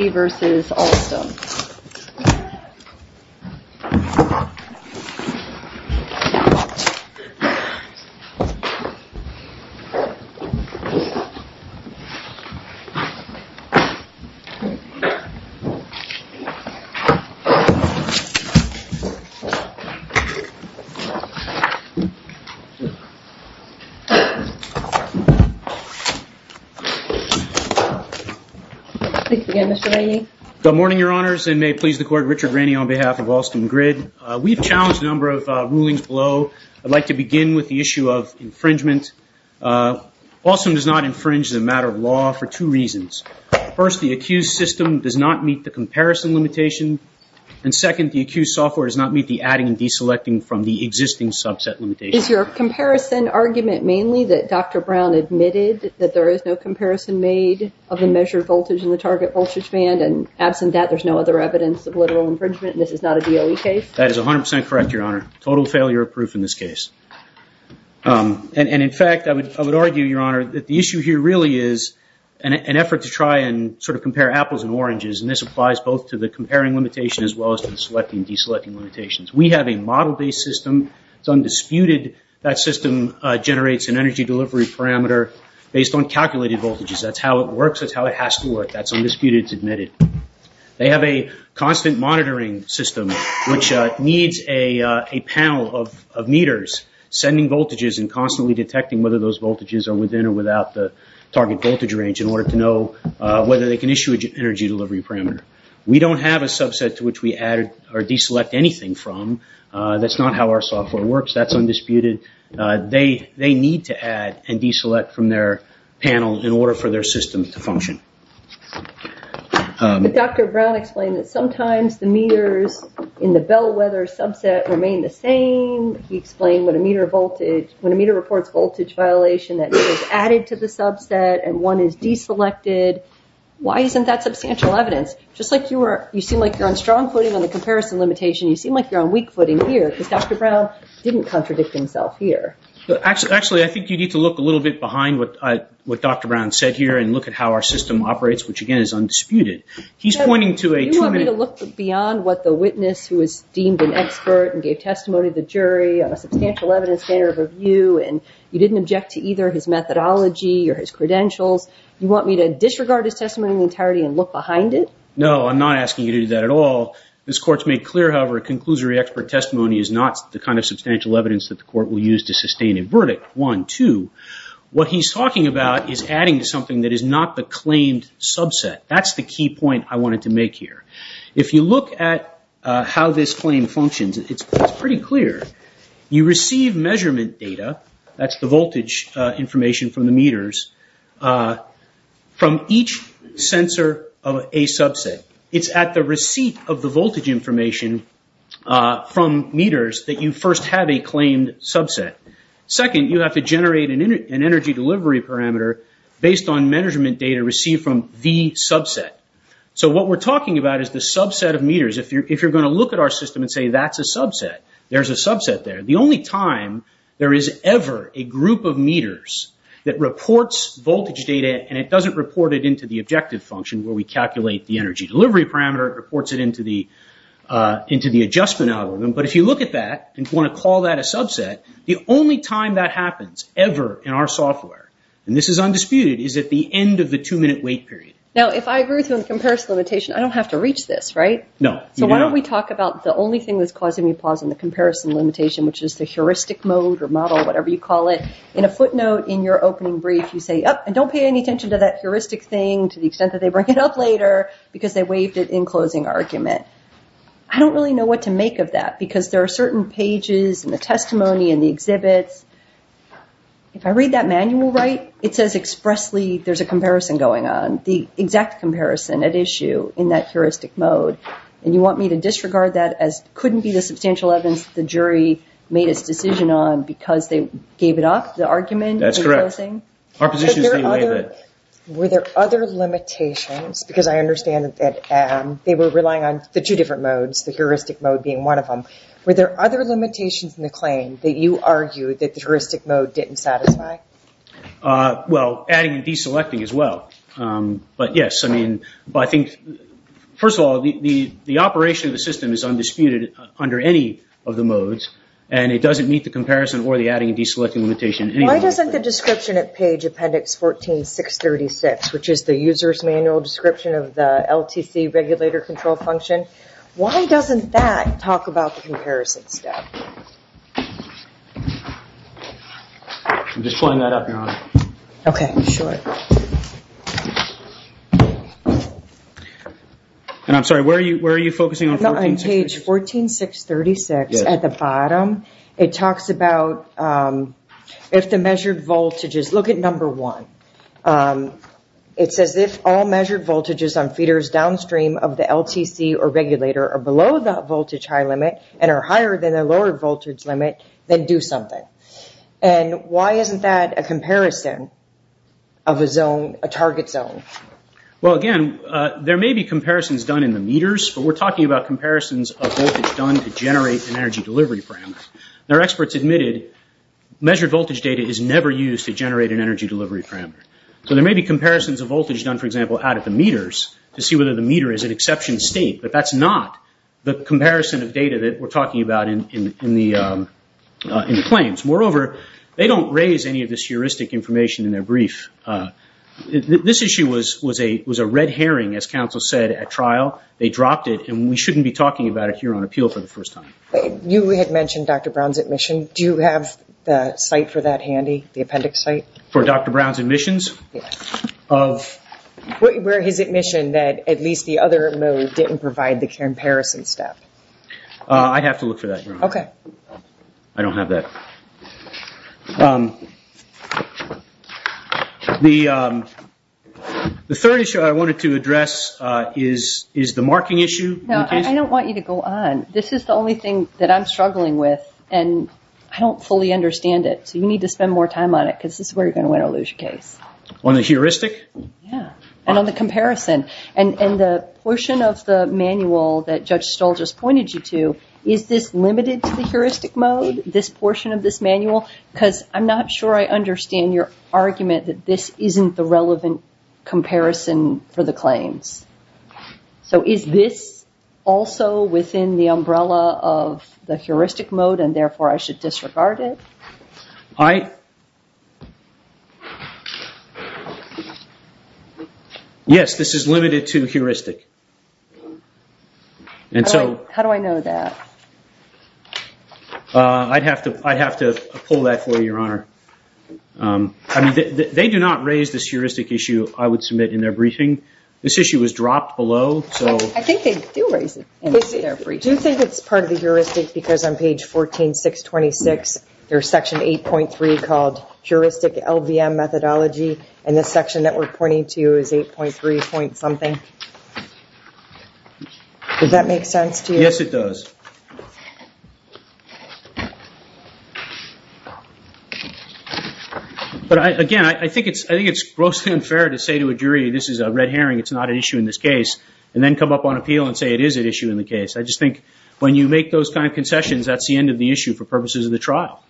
v. Alstom Thank you again, Mr. Rainey. Good morning, Your Honors, and may it please the Court, Richard Rainey on behalf of Alstom Grid. We've challenged a number of rulings below. I'd like to begin with the issue of infringement. Alstom does not infringe the matter of law for two reasons. First, the accused system does not meet the comparison limitation, and second, the accused software does not meet the adding and deselecting from the existing subset limitation. Is your comparison argument mainly that Dr. Brown admitted that there is no comparison made of the measured voltage in the target voltage band and, absent that, there's no other evidence of literal infringement and this is not a DOE case? That is 100% correct, Your Honor. Total failure of proof in this case. And, in fact, I would argue, Your Honor, that the issue here really is an effort to try and sort of compare apples and oranges, and this applies both to the comparing limitation as well as to the selecting and deselecting limitations. We have a model-based system. It's undisputed. That system generates an energy delivery parameter based on calculated voltage. That's undisputed. It's admitted. They have a constant monitoring system which needs a panel of meters sending voltages and constantly detecting whether those voltages are within or without the target voltage range in order to know whether they can issue an energy delivery parameter. We don't have a subset to which we add or deselect anything from. That's not how our software works. That's undisputed. They need to add and deselect from their panel in order for their system to function. Dr. Brown explained that sometimes the meters in the bellwether subset remain the same. He explained when a meter reports voltage violation, that meter is added to the subset and one is deselected. Why isn't that substantial evidence? Just like you seem like you're on strong footing on the comparison limitation, you seem like you're on weak footing here because Dr. Brown didn't contradict himself here. Actually, I think you need to look a little bit behind what Dr. Brown said here and look at how our system operates, which again is undisputed. He's pointing to a... You want me to look beyond what the witness who is deemed an expert and gave testimony to the jury on a substantial evidence standard of review and you didn't object to either his methodology or his credentials. You want me to disregard his testimony in entirety and look behind it? No, I'm not asking you to do that at all. This court's made clear, however, a conclusory expert testimony is not the kind of substantial evidence that the court will use to sustain a verdict, one. Two, what he's talking about is adding to something that is not the claimed subset. That's the key point I wanted to make here. If you look at how this claim functions, it's pretty clear. You receive measurement data, that's the voltage information from the meters, from each sensor of a subset. It's at the receipt of the voltage information from meters that you first have a claimed subset. Second, you have to generate an energy delivery parameter based on measurement data received from the subset. So what we're talking about is the subset of meters. If you're going to look at our system and say that's a subset, there's a subset there. The only time there is ever a group of meters that reports voltage data and it doesn't report it into the objective function where we calculate the energy delivery parameter, it reports it into the adjustment algorithm. But if you look at that and want to call that a subset, the only time that happens ever in our software, and this is undisputed, is at the end of the two-minute wait period. Now, if I agree with you on the comparison limitation, I don't have to reach this, right? No, you do not. So why don't we talk about the only thing that's causing me pause on the comparison limitation, which is the heuristic mode or model, whatever you call it. In a footnote in your opening brief, you say, and don't pay any attention to that heuristic thing to the extent that they bring it up later because they waived it in closing argument. I don't really know what to make of that because there are certain pages in the testimony and the exhibits. If I read that manual right, it says expressly there's a comparison going on, the exact comparison at issue in that heuristic mode. And you want me to disregard that as couldn't be the substantial evidence the jury made its decision on because they gave it up, the argument? That's correct. Our position is Were there other limitations? Because I understand that they were relying on the two different modes, the heuristic mode being one of them. Were there other limitations in the claim that you argued that the heuristic mode didn't satisfy? Well, adding and deselecting as well. But yes, I mean, I think, first of all, the operation of the system is undisputed under any of the modes, and it doesn't meet the comparison or the adding and deselecting Why doesn't the description at page appendix 14636, which is the user's manual description of the LTC regulator control function, why doesn't that talk about the comparison step? I'm just pulling that up, Your Honor. Okay, sure. And I'm sorry, where are you focusing on 14636? On page 14636 at the bottom, it talks about if the measured voltages, look at number one, it says if all measured voltages on feeders downstream of the LTC or regulator are below the voltage high limit and are higher than the lower voltage limit, then do something. And why isn't that a comparison of a zone, a target zone? Well, again, there may be comparisons done in the meters, but we're talking about comparisons of voltage done to generate an energy delivery parameter. Now, experts admitted measured voltage data is never used to generate an energy delivery parameter. So there may be comparisons of voltage done, for example, out at the meters to see whether the meter is an exception state, but that's not the comparison of data that we're talking about in the claims. Moreover, they don't raise any of this heuristic information in their and we shouldn't be talking about it here on appeal for the first time. You had mentioned Dr. Brown's admission. Do you have the site for that handy, the appendix site? For Dr. Brown's admissions? Yes. Where his admission that at least the other mode didn't provide the comparison step? I'd have to look for that, Your Honor. Okay. I don't have that. The third issue I wanted to address is the marking issue. Now, I don't want you to go on. This is the only thing that I'm struggling with, and I don't fully understand it. So you need to spend more time on it because this is where you're going to win or lose your case. On the heuristic? Yeah. And on the comparison. And the portion of the manual that Judge Stoll just pointed you to, is this limited to the heuristic mode, this portion of this manual? Because I'm not sure I understand your argument that this isn't the relevant comparison for the claims. So is this also within the umbrella of the heuristic mode and therefore I should disregard it? Yes. This is limited to heuristic. How do I know that? I'd have to pull that for you, Your Honor. They do not raise this heuristic issue I would submit in their briefing. This issue was dropped below. I think they do raise it in their briefing. Do you think it's part of the heuristic because on page 14, 626, there's section 8.3 called heuristic LVM methodology, and this section that we're pointing to is 8.3 point something? Does that make sense to you? Yes, it does. But again, I think it's grossly unfair to say to a jury, this is a red herring, it's not an issue in this case, and then come up on appeal and say it is an issue in the case. I just think when you make those kind of concessions, that's the end of the issue for purposes of the trial.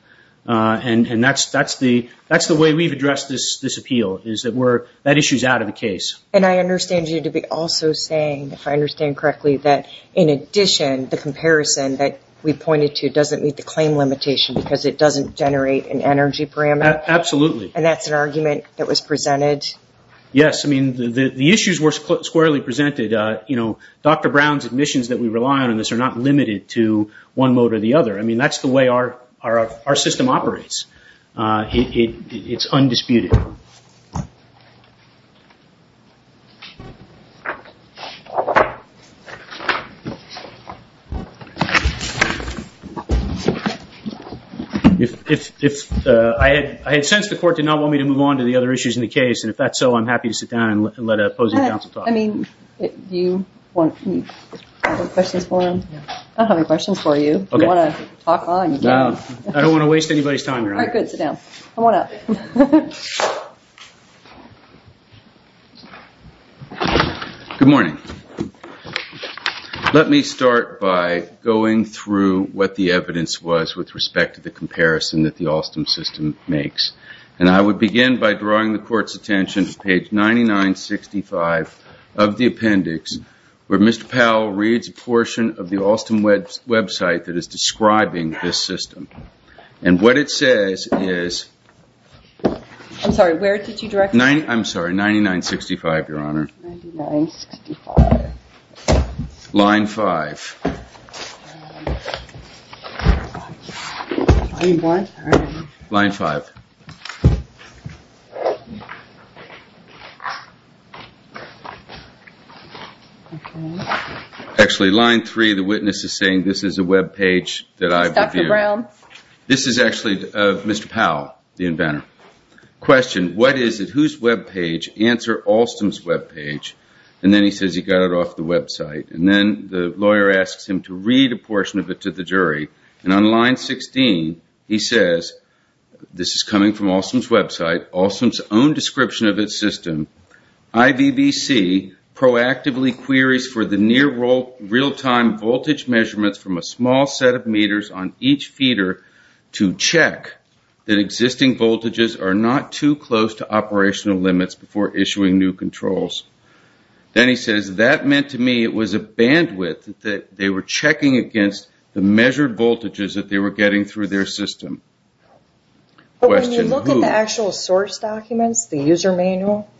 And that's the way we've addressed this appeal, is that that issue's out of the case. And I understand you to be also saying, if I understand correctly, that in addition, the comparison that we pointed to doesn't meet the claim limitation because it doesn't generate an energy parameter? Absolutely. And that's an argument that was presented? Yes. The issues were squarely presented. Dr. Brown's admissions that we rely on in this are not limited to one mode or the other. That's the way our system operates. It's undisputed. I had sensed the court did not want me to move on to the other issues in the case, and if that's so, I'm happy to sit down and let an opposing counsel talk. I mean, do you have any questions for him? I don't have any questions for you. If you want to talk on, you can. I don't want to waste anybody's time here. All right, good. Sit down. Come on up. Good morning. Let me start by going through what the evidence was with respect to the comparison that the Alstom system makes. And I would begin by drawing the court's attention to page 9965 of the appendix, where Mr. Powell reads a portion of the Alstom website that is describing this system. And what it says is... I'm sorry, 9965, Your Honor. Line five. Line five. Actually, line three, the witness is saying this is a web page that I've reviewed. This is actually of Mr. Powell, the inventor. Question, what is it? Whose web page? Answer, Alstom's web page. And then he says he got it off the website. And then the lawyer asks him to read a portion of it to the jury. And on line 16, he says, this is coming from Alstom's website, Alstom's own description of its system. IVVC proactively queries for the near real-time voltage measurements from a small set of meters on each feeder to check that existing voltages are not too close to operational limits before issuing new controls. Then he says, that meant to me it was a bandwidth that they were checking against the measured voltages that they were getting through their system. Question, who? When you look at the actual source documents, the user manual,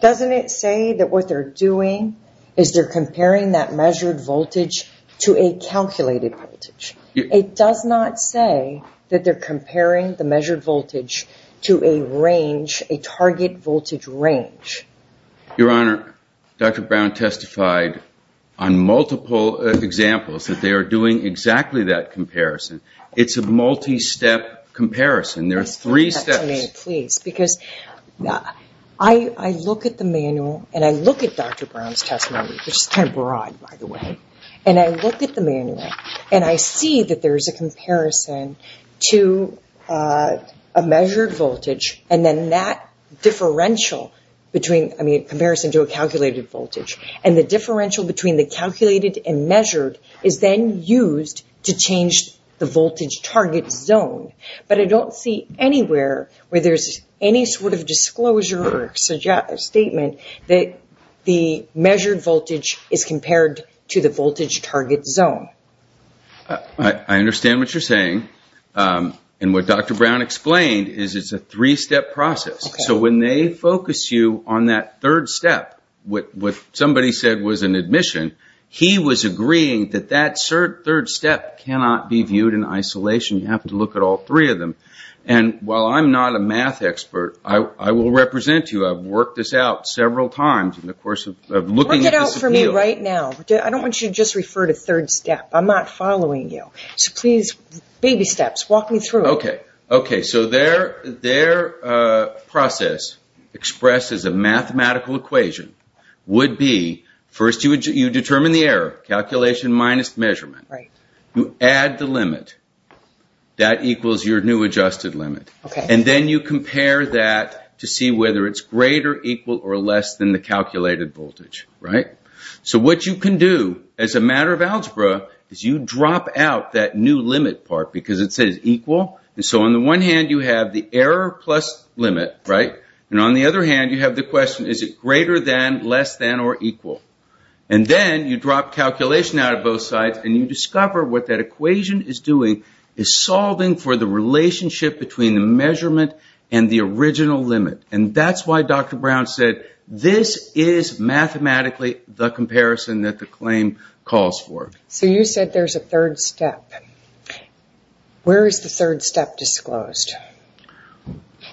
doesn't it say that what they're doing is they're comparing that measured voltage to a calculated voltage? It does not say that they're comparing the measured voltage to a range, a target voltage range. Your Honor, Dr. Brown testified on multiple examples that they are doing exactly that comparison. It's a multi-step comparison. There are three steps. I look at the manual and I look at Dr. Brown's testimony, which is kind of the same. I look at the manual and I see that there's a comparison to a measured voltage and then that differential between, I mean, comparison to a calculated voltage. The differential between the calculated and measured is then used to change the voltage target zone. But I don't see anywhere where there's any sort of disclosure or statement that the measured voltage is compared to the range target zone. I understand what you're saying. What Dr. Brown explained is it's a three-step process. When they focus you on that third step, what somebody said was an admission, he was agreeing that that third step cannot be viewed in isolation. You have to look at all three of them. While I'm not a math expert, I will represent you. I've worked this out several times in the course of looking at this appeal. Work it out for me right now. I don't want you to just refer to third step. I'm not following you. So please, baby steps, walk me through it. Okay. So their process expresses a mathematical equation, would be first you determine the error, calculation minus measurement. You add the limit. That equals your new adjusted limit. And then you compare that to see whether it's greater, equal, or less than the calculated voltage. So what you can do as a matter of algebra is you drop out that new limit part because it says equal. And so on the one hand, you have the error plus limit. And on the other hand, you have the question, is it greater than, less than, or equal? And then you drop calculation out of both sides and you discover what that equation is doing is solving for the relationship between the measurement and the original limit. And that's why Dr. Brown said this is mathematically the comparison that the claim calls for. So you said there's a third step. Where is the third step disclosed?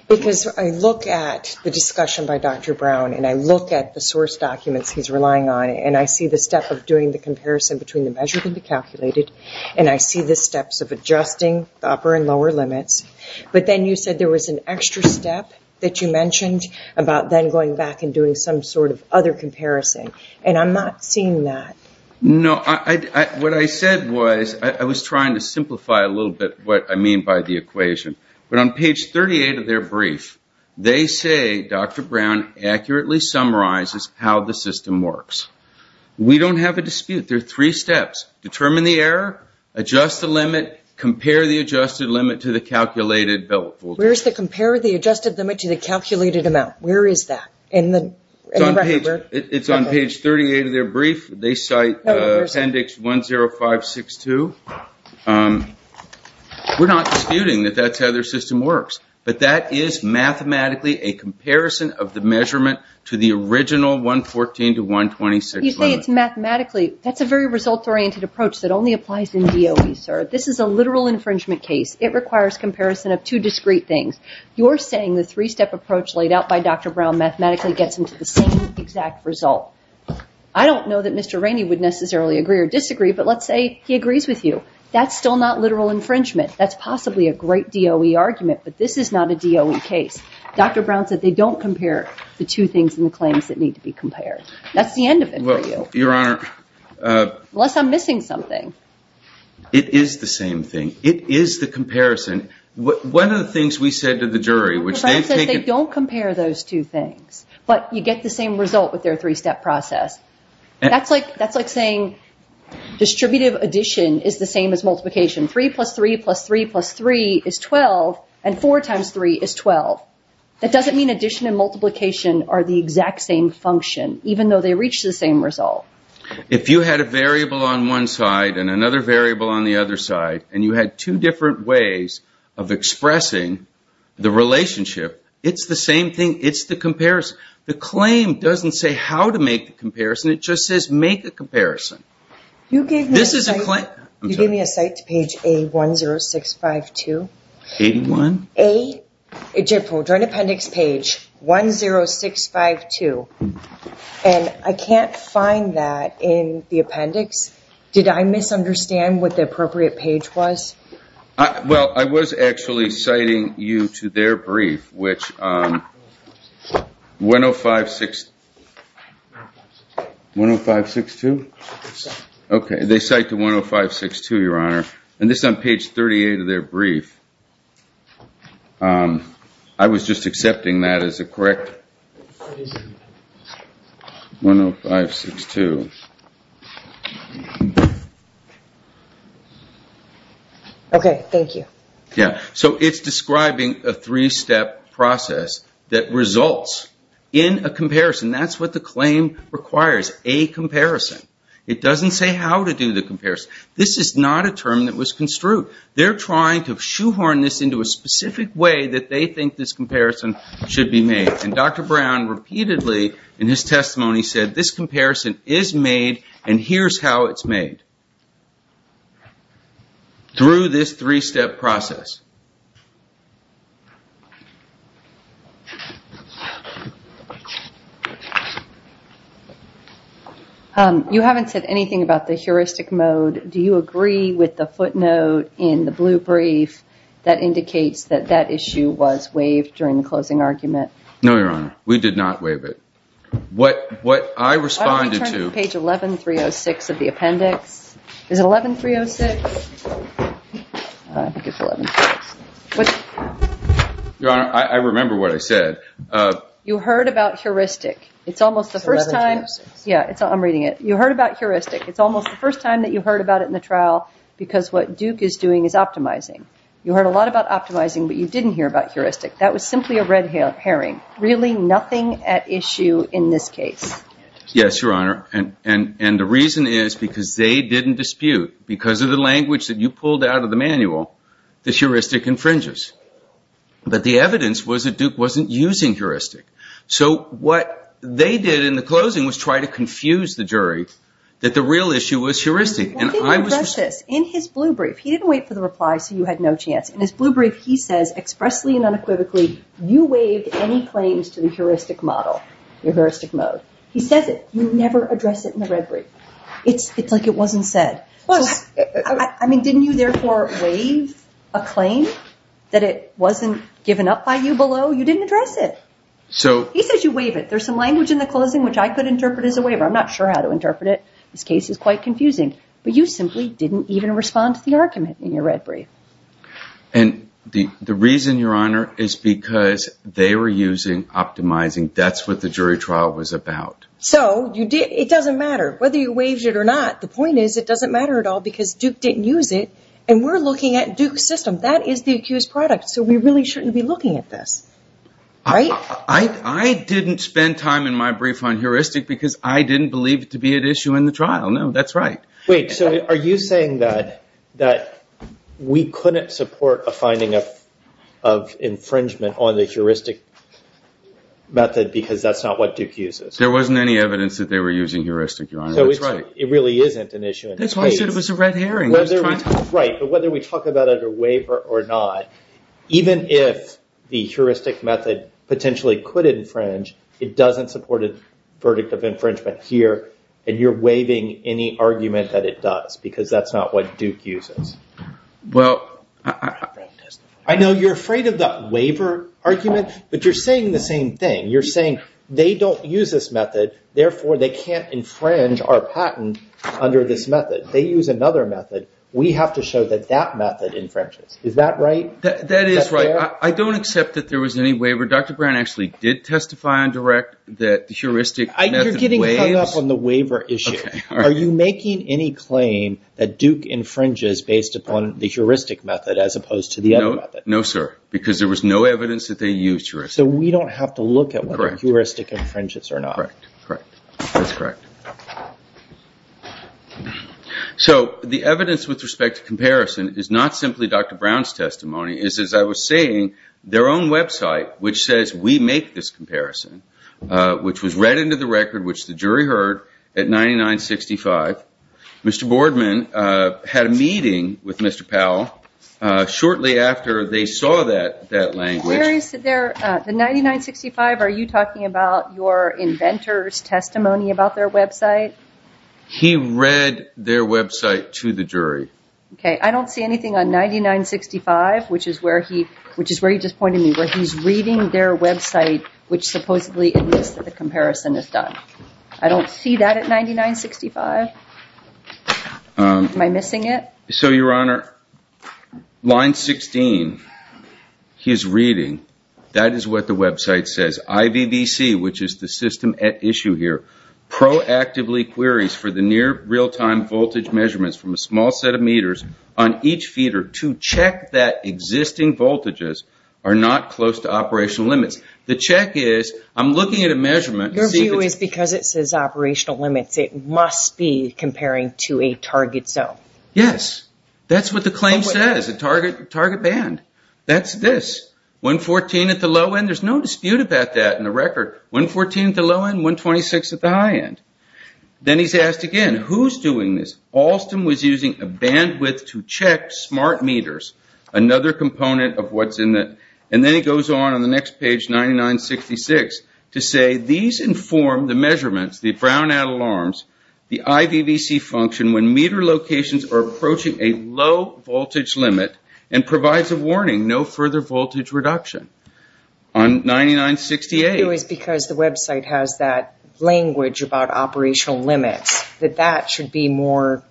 Because I look at the discussion by Dr. Brown and I look at the source documents he's relying on and I see the step of doing the comparison between the measured and the calculated and I see the steps of adjusting the upper and lower limits. But then you said there was an extra step that you mentioned about then going back and doing some sort of other comparison. And I'm not seeing that. No, what I said was I was trying to simplify a little bit what I mean by the equation. But on page 38 of their brief, they say Dr. Brown accurately summarizes how the system works. We don't have a dispute. There are three steps. Determine the error, adjust the limit, compare the adjusted limit to the calculated. Where is the compare the adjusted limit to the calculated amount? Where is that? It's on page 38 of their brief. They cite appendix 10562. We're not disputing that that's how their system works. But that is mathematically a comparison of measurement to the original 114 to 126. You say it's mathematically. That's a very result-oriented approach that only applies in DOE, sir. This is a literal infringement case. It requires comparison of two discrete things. You're saying the three-step approach laid out by Dr. Brown mathematically gets him to the same exact result. I don't know that Mr. Rainey would necessarily agree or disagree, but let's say he agrees with you. That's still not literal infringement. That's possibly a great DOE argument, but this is not a DOE case. Dr. Brown said they don't compare the two things in the claims that need to be compared. That's the end of it for you. Unless I'm missing something. It is the same thing. It is the comparison. One of the things we said to the jury, which they've taken- Dr. Brown said they don't compare those two things, but you get the same result with their three-step process. That's like saying distributive addition is the same as multiplication. 3 plus 3 plus 3 plus 3 is 12, and 4 times 3 is 12. That doesn't mean addition and multiplication are the exact same function, even though they reach the same result. If you had a variable on one side and another variable on the other side, and you had two different ways of expressing the relationship, it's the same thing. It's the comparison. The claim doesn't say how to make the comparison. It just says make a comparison. You gave me a site to page A10652. I can't find that in the appendix. Did I misunderstand what the appropriate page was? I was actually citing you to their brief, which is 10562. This is on page 38 of their brief. I was just accepting that as a correct- 10562. Okay. Thank you. It's describing a three-step process that results in a comparison. That's what the claim requires, a comparison. It doesn't say how to do the comparison. This is not a term that was construed. They're trying to shoehorn this into a specific way that they think this comparison should be made. Dr. Brown repeatedly in his testimony said this comparison is made, and here's how it's made through this three-step process. You haven't said anything about the heuristic mode. Do you agree with the footnote in the blue brief that indicates that that issue was waived during the closing argument? No, Your Honor. We did not waive it. What I responded to- Why don't we turn to page 11306 of the appendix? Is it 11306? I think it's 11306. Your Honor, I remember what I said. You heard about heuristic. It's almost the first time- It's 11306. Yeah. I'm reading it. You heard about heuristic. It's almost the first time that you heard about it in the trial because what Duke is doing is optimizing. You heard a lot about optimizing, but you didn't hear about heuristic. That was simply a red herring. Really nothing at issue in this case. Yes, Your Honor, and the reason is because they didn't dispute. Because of the language that you pulled out of the manual, the heuristic infringes. But the evidence was that Duke wasn't using heuristic. So what they did in the closing was try to confuse the jury that the real issue was heuristic. What did he address this? In his blue brief, he didn't wait for the reply, so you had no chance. In his blue brief, he says expressly and unequivocally, you waived any claims to the heuristic model, your heuristic mode. He says it. You never address it in the red brief. It's like it wasn't said. I mean, didn't you therefore waive a claim that it wasn't given up by you below? You didn't address it. He says you waive it. There's some language in the closing which I could interpret as a waiver. I'm not sure how to interpret it. This case is quite confusing, but you simply didn't even respond to the argument in your red brief. And the reason, Your Honor, is because they were using optimizing. That's what the jury trial was about. So it doesn't matter whether you waived it or not. The point is, it doesn't matter at all because Duke didn't use it. And we're looking at Duke's system. That is the accused product. So we really shouldn't be looking at this, right? I didn't spend time in my brief on heuristic because I didn't believe it to be at issue in the trial. No, that's right. Wait. So are you saying that we couldn't support a finding of infringement on the heuristic method because that's not what Duke uses? There wasn't any evidence that they were using heuristic, Your Honor. That's right. It really isn't an issue. That's why I said it was a red herring. Right. But whether we talk about it or waive it or not, even if the heuristic method potentially could infringe, it doesn't support a verdict of infringement here. And you're waiving any argument that it does because that's not what Duke uses. I know you're afraid of the waiver argument, but you're saying the same thing. You're saying they don't use this method. Therefore, they can't infringe our patent under this method. They use another method. We have to show that that method infringes. Is that right? That is right. I don't accept that there was any waiver. Dr. Brown actually did testify on direct that the heuristic method waives. You're getting hung up on the waiver issue. Are you making any claim that Duke infringes based upon the heuristic method as opposed to the other method? No, sir. Because there was no evidence that they used heuristic. So we don't have to look at whether heuristic infringes or not. Correct. That's correct. Okay. So the evidence with respect to comparison is not simply Dr. Brown's testimony. It's, as I was saying, their own website, which says we make this comparison, which was read into the record, which the jury heard at 9965. Mr. Boardman had a meeting with Mr. Powell shortly after they saw that language. The 9965, are you talking about your inventor's website? He read their website to the jury. Okay. I don't see anything on 9965, which is where he just pointed me, where he's reading their website, which supposedly admits that the comparison is done. I don't see that at 9965. Am I missing it? So your honor, line 16, his reading, that is what the website says. IVVC, which is the system at issue here, proactively queries for the near real-time voltage measurements from a small set of meters on each feeder to check that existing voltages are not close to operational limits. The check is, I'm looking at a measurement. Your view is because it says operational limits, it must be that's this, 114 at the low end. There's no dispute about that in the record, 114 at the low end, 126 at the high end. Then he's asked again, who's doing this? Alston was using a bandwidth to check smart meters, another component of what's in it. And then he goes on, on the next page, 9966, to say these inform the measurements, the brownout alarms, the IVVC function when meter locations are approaching a low voltage limit and provides a warning, no further voltage reduction. On 9968. It was because the website has that language about operational limits, that that should be more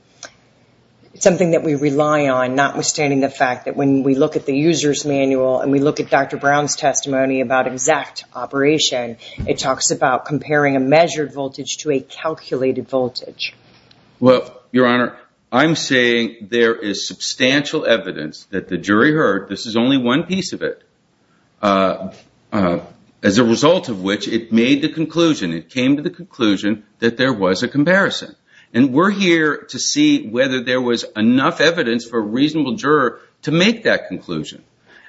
something that we rely on, notwithstanding the fact that when we look at the user's manual and we look at Dr. Brown's testimony about exact operation, it talks about comparing a measured voltage to a calculated voltage. Well, your honor, I'm saying there is substantial evidence that the jury heard, this is only one piece of it, as a result of which it made the conclusion, it came to the conclusion that there was a comparison. And we're here to see whether there was enough evidence for a reasonable juror to make that conclusion.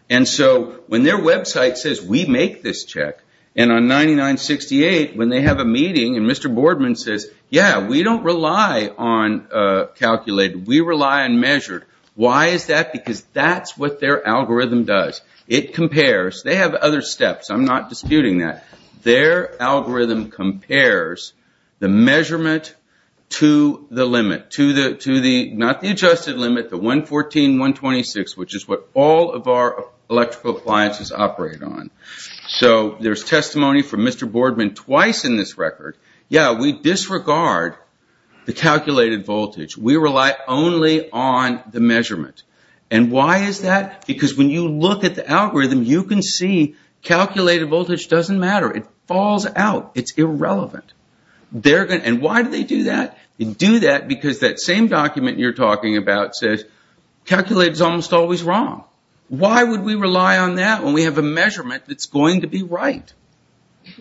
And so when their website says we make this check, and on 9968 when they have a meeting and Mr. Boardman says, yeah, we don't rely on calculated, we rely on measured, why is that? Because that's what their algorithm does. It compares, they have other steps, I'm not disputing that. Their algorithm compares the measurement to the limit, to the, not the adjusted limit, the 114, 126, which is what all of our electrical appliances operate on. So there's testimony from Mr. Boardman twice in this record, yeah, we disregard the calculated voltage, we rely only on the measurement. And why is that? Because when you look at the algorithm, you can see calculated voltage doesn't matter, it falls out, it's irrelevant. And why do they do that? They do that because that same document you're talking about says calculated is almost wrong. Why would we rely on that when we have a measurement that's going to be right?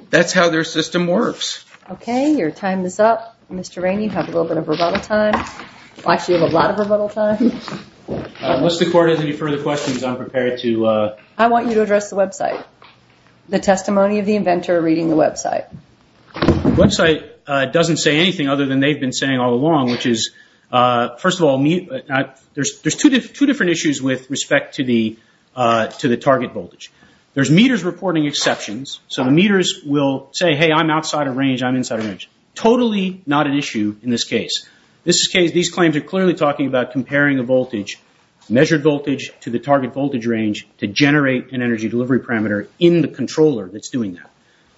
That's how their system works. Okay, your time is up. Mr. Rainey, you have a little bit of rebuttal time. Actually, you have a lot of rebuttal time. Unless the court has any further questions, I'm prepared to... I want you to address the website. The testimony of the inventor reading the website. The website doesn't say anything other than they've been saying all along, which is, first of all, there's two different issues with respect to the target voltage. There's meters reporting exceptions. So the meters will say, hey, I'm outside of range, I'm inside of range. Totally not an issue in this case. In this case, these claims are clearly talking about comparing a voltage, measured voltage to the target voltage range to generate an energy delivery parameter in the controller that's doing that.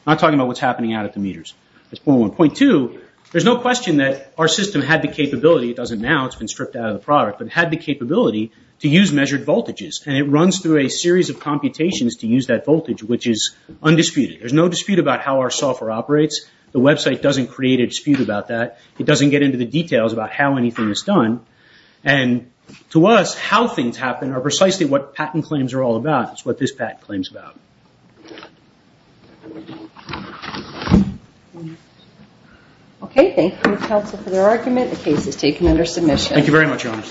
I'm talking about what's happening out at the meters. That's point one. Point two, there's no question that our system had the capability, it doesn't now, it's been stripped out of the product, but had the capability to use measured voltages. It runs through a series of computations to use that voltage, which is undisputed. There's no dispute about how our software operates. The website doesn't create a dispute about that. It doesn't get into the details about how anything is done. To us, how things happen are precisely what patent claims are all about. It's what this patent claims about. Okay, thank you counsel for the argument. The case is taken under submission. Thank you very much, your honor.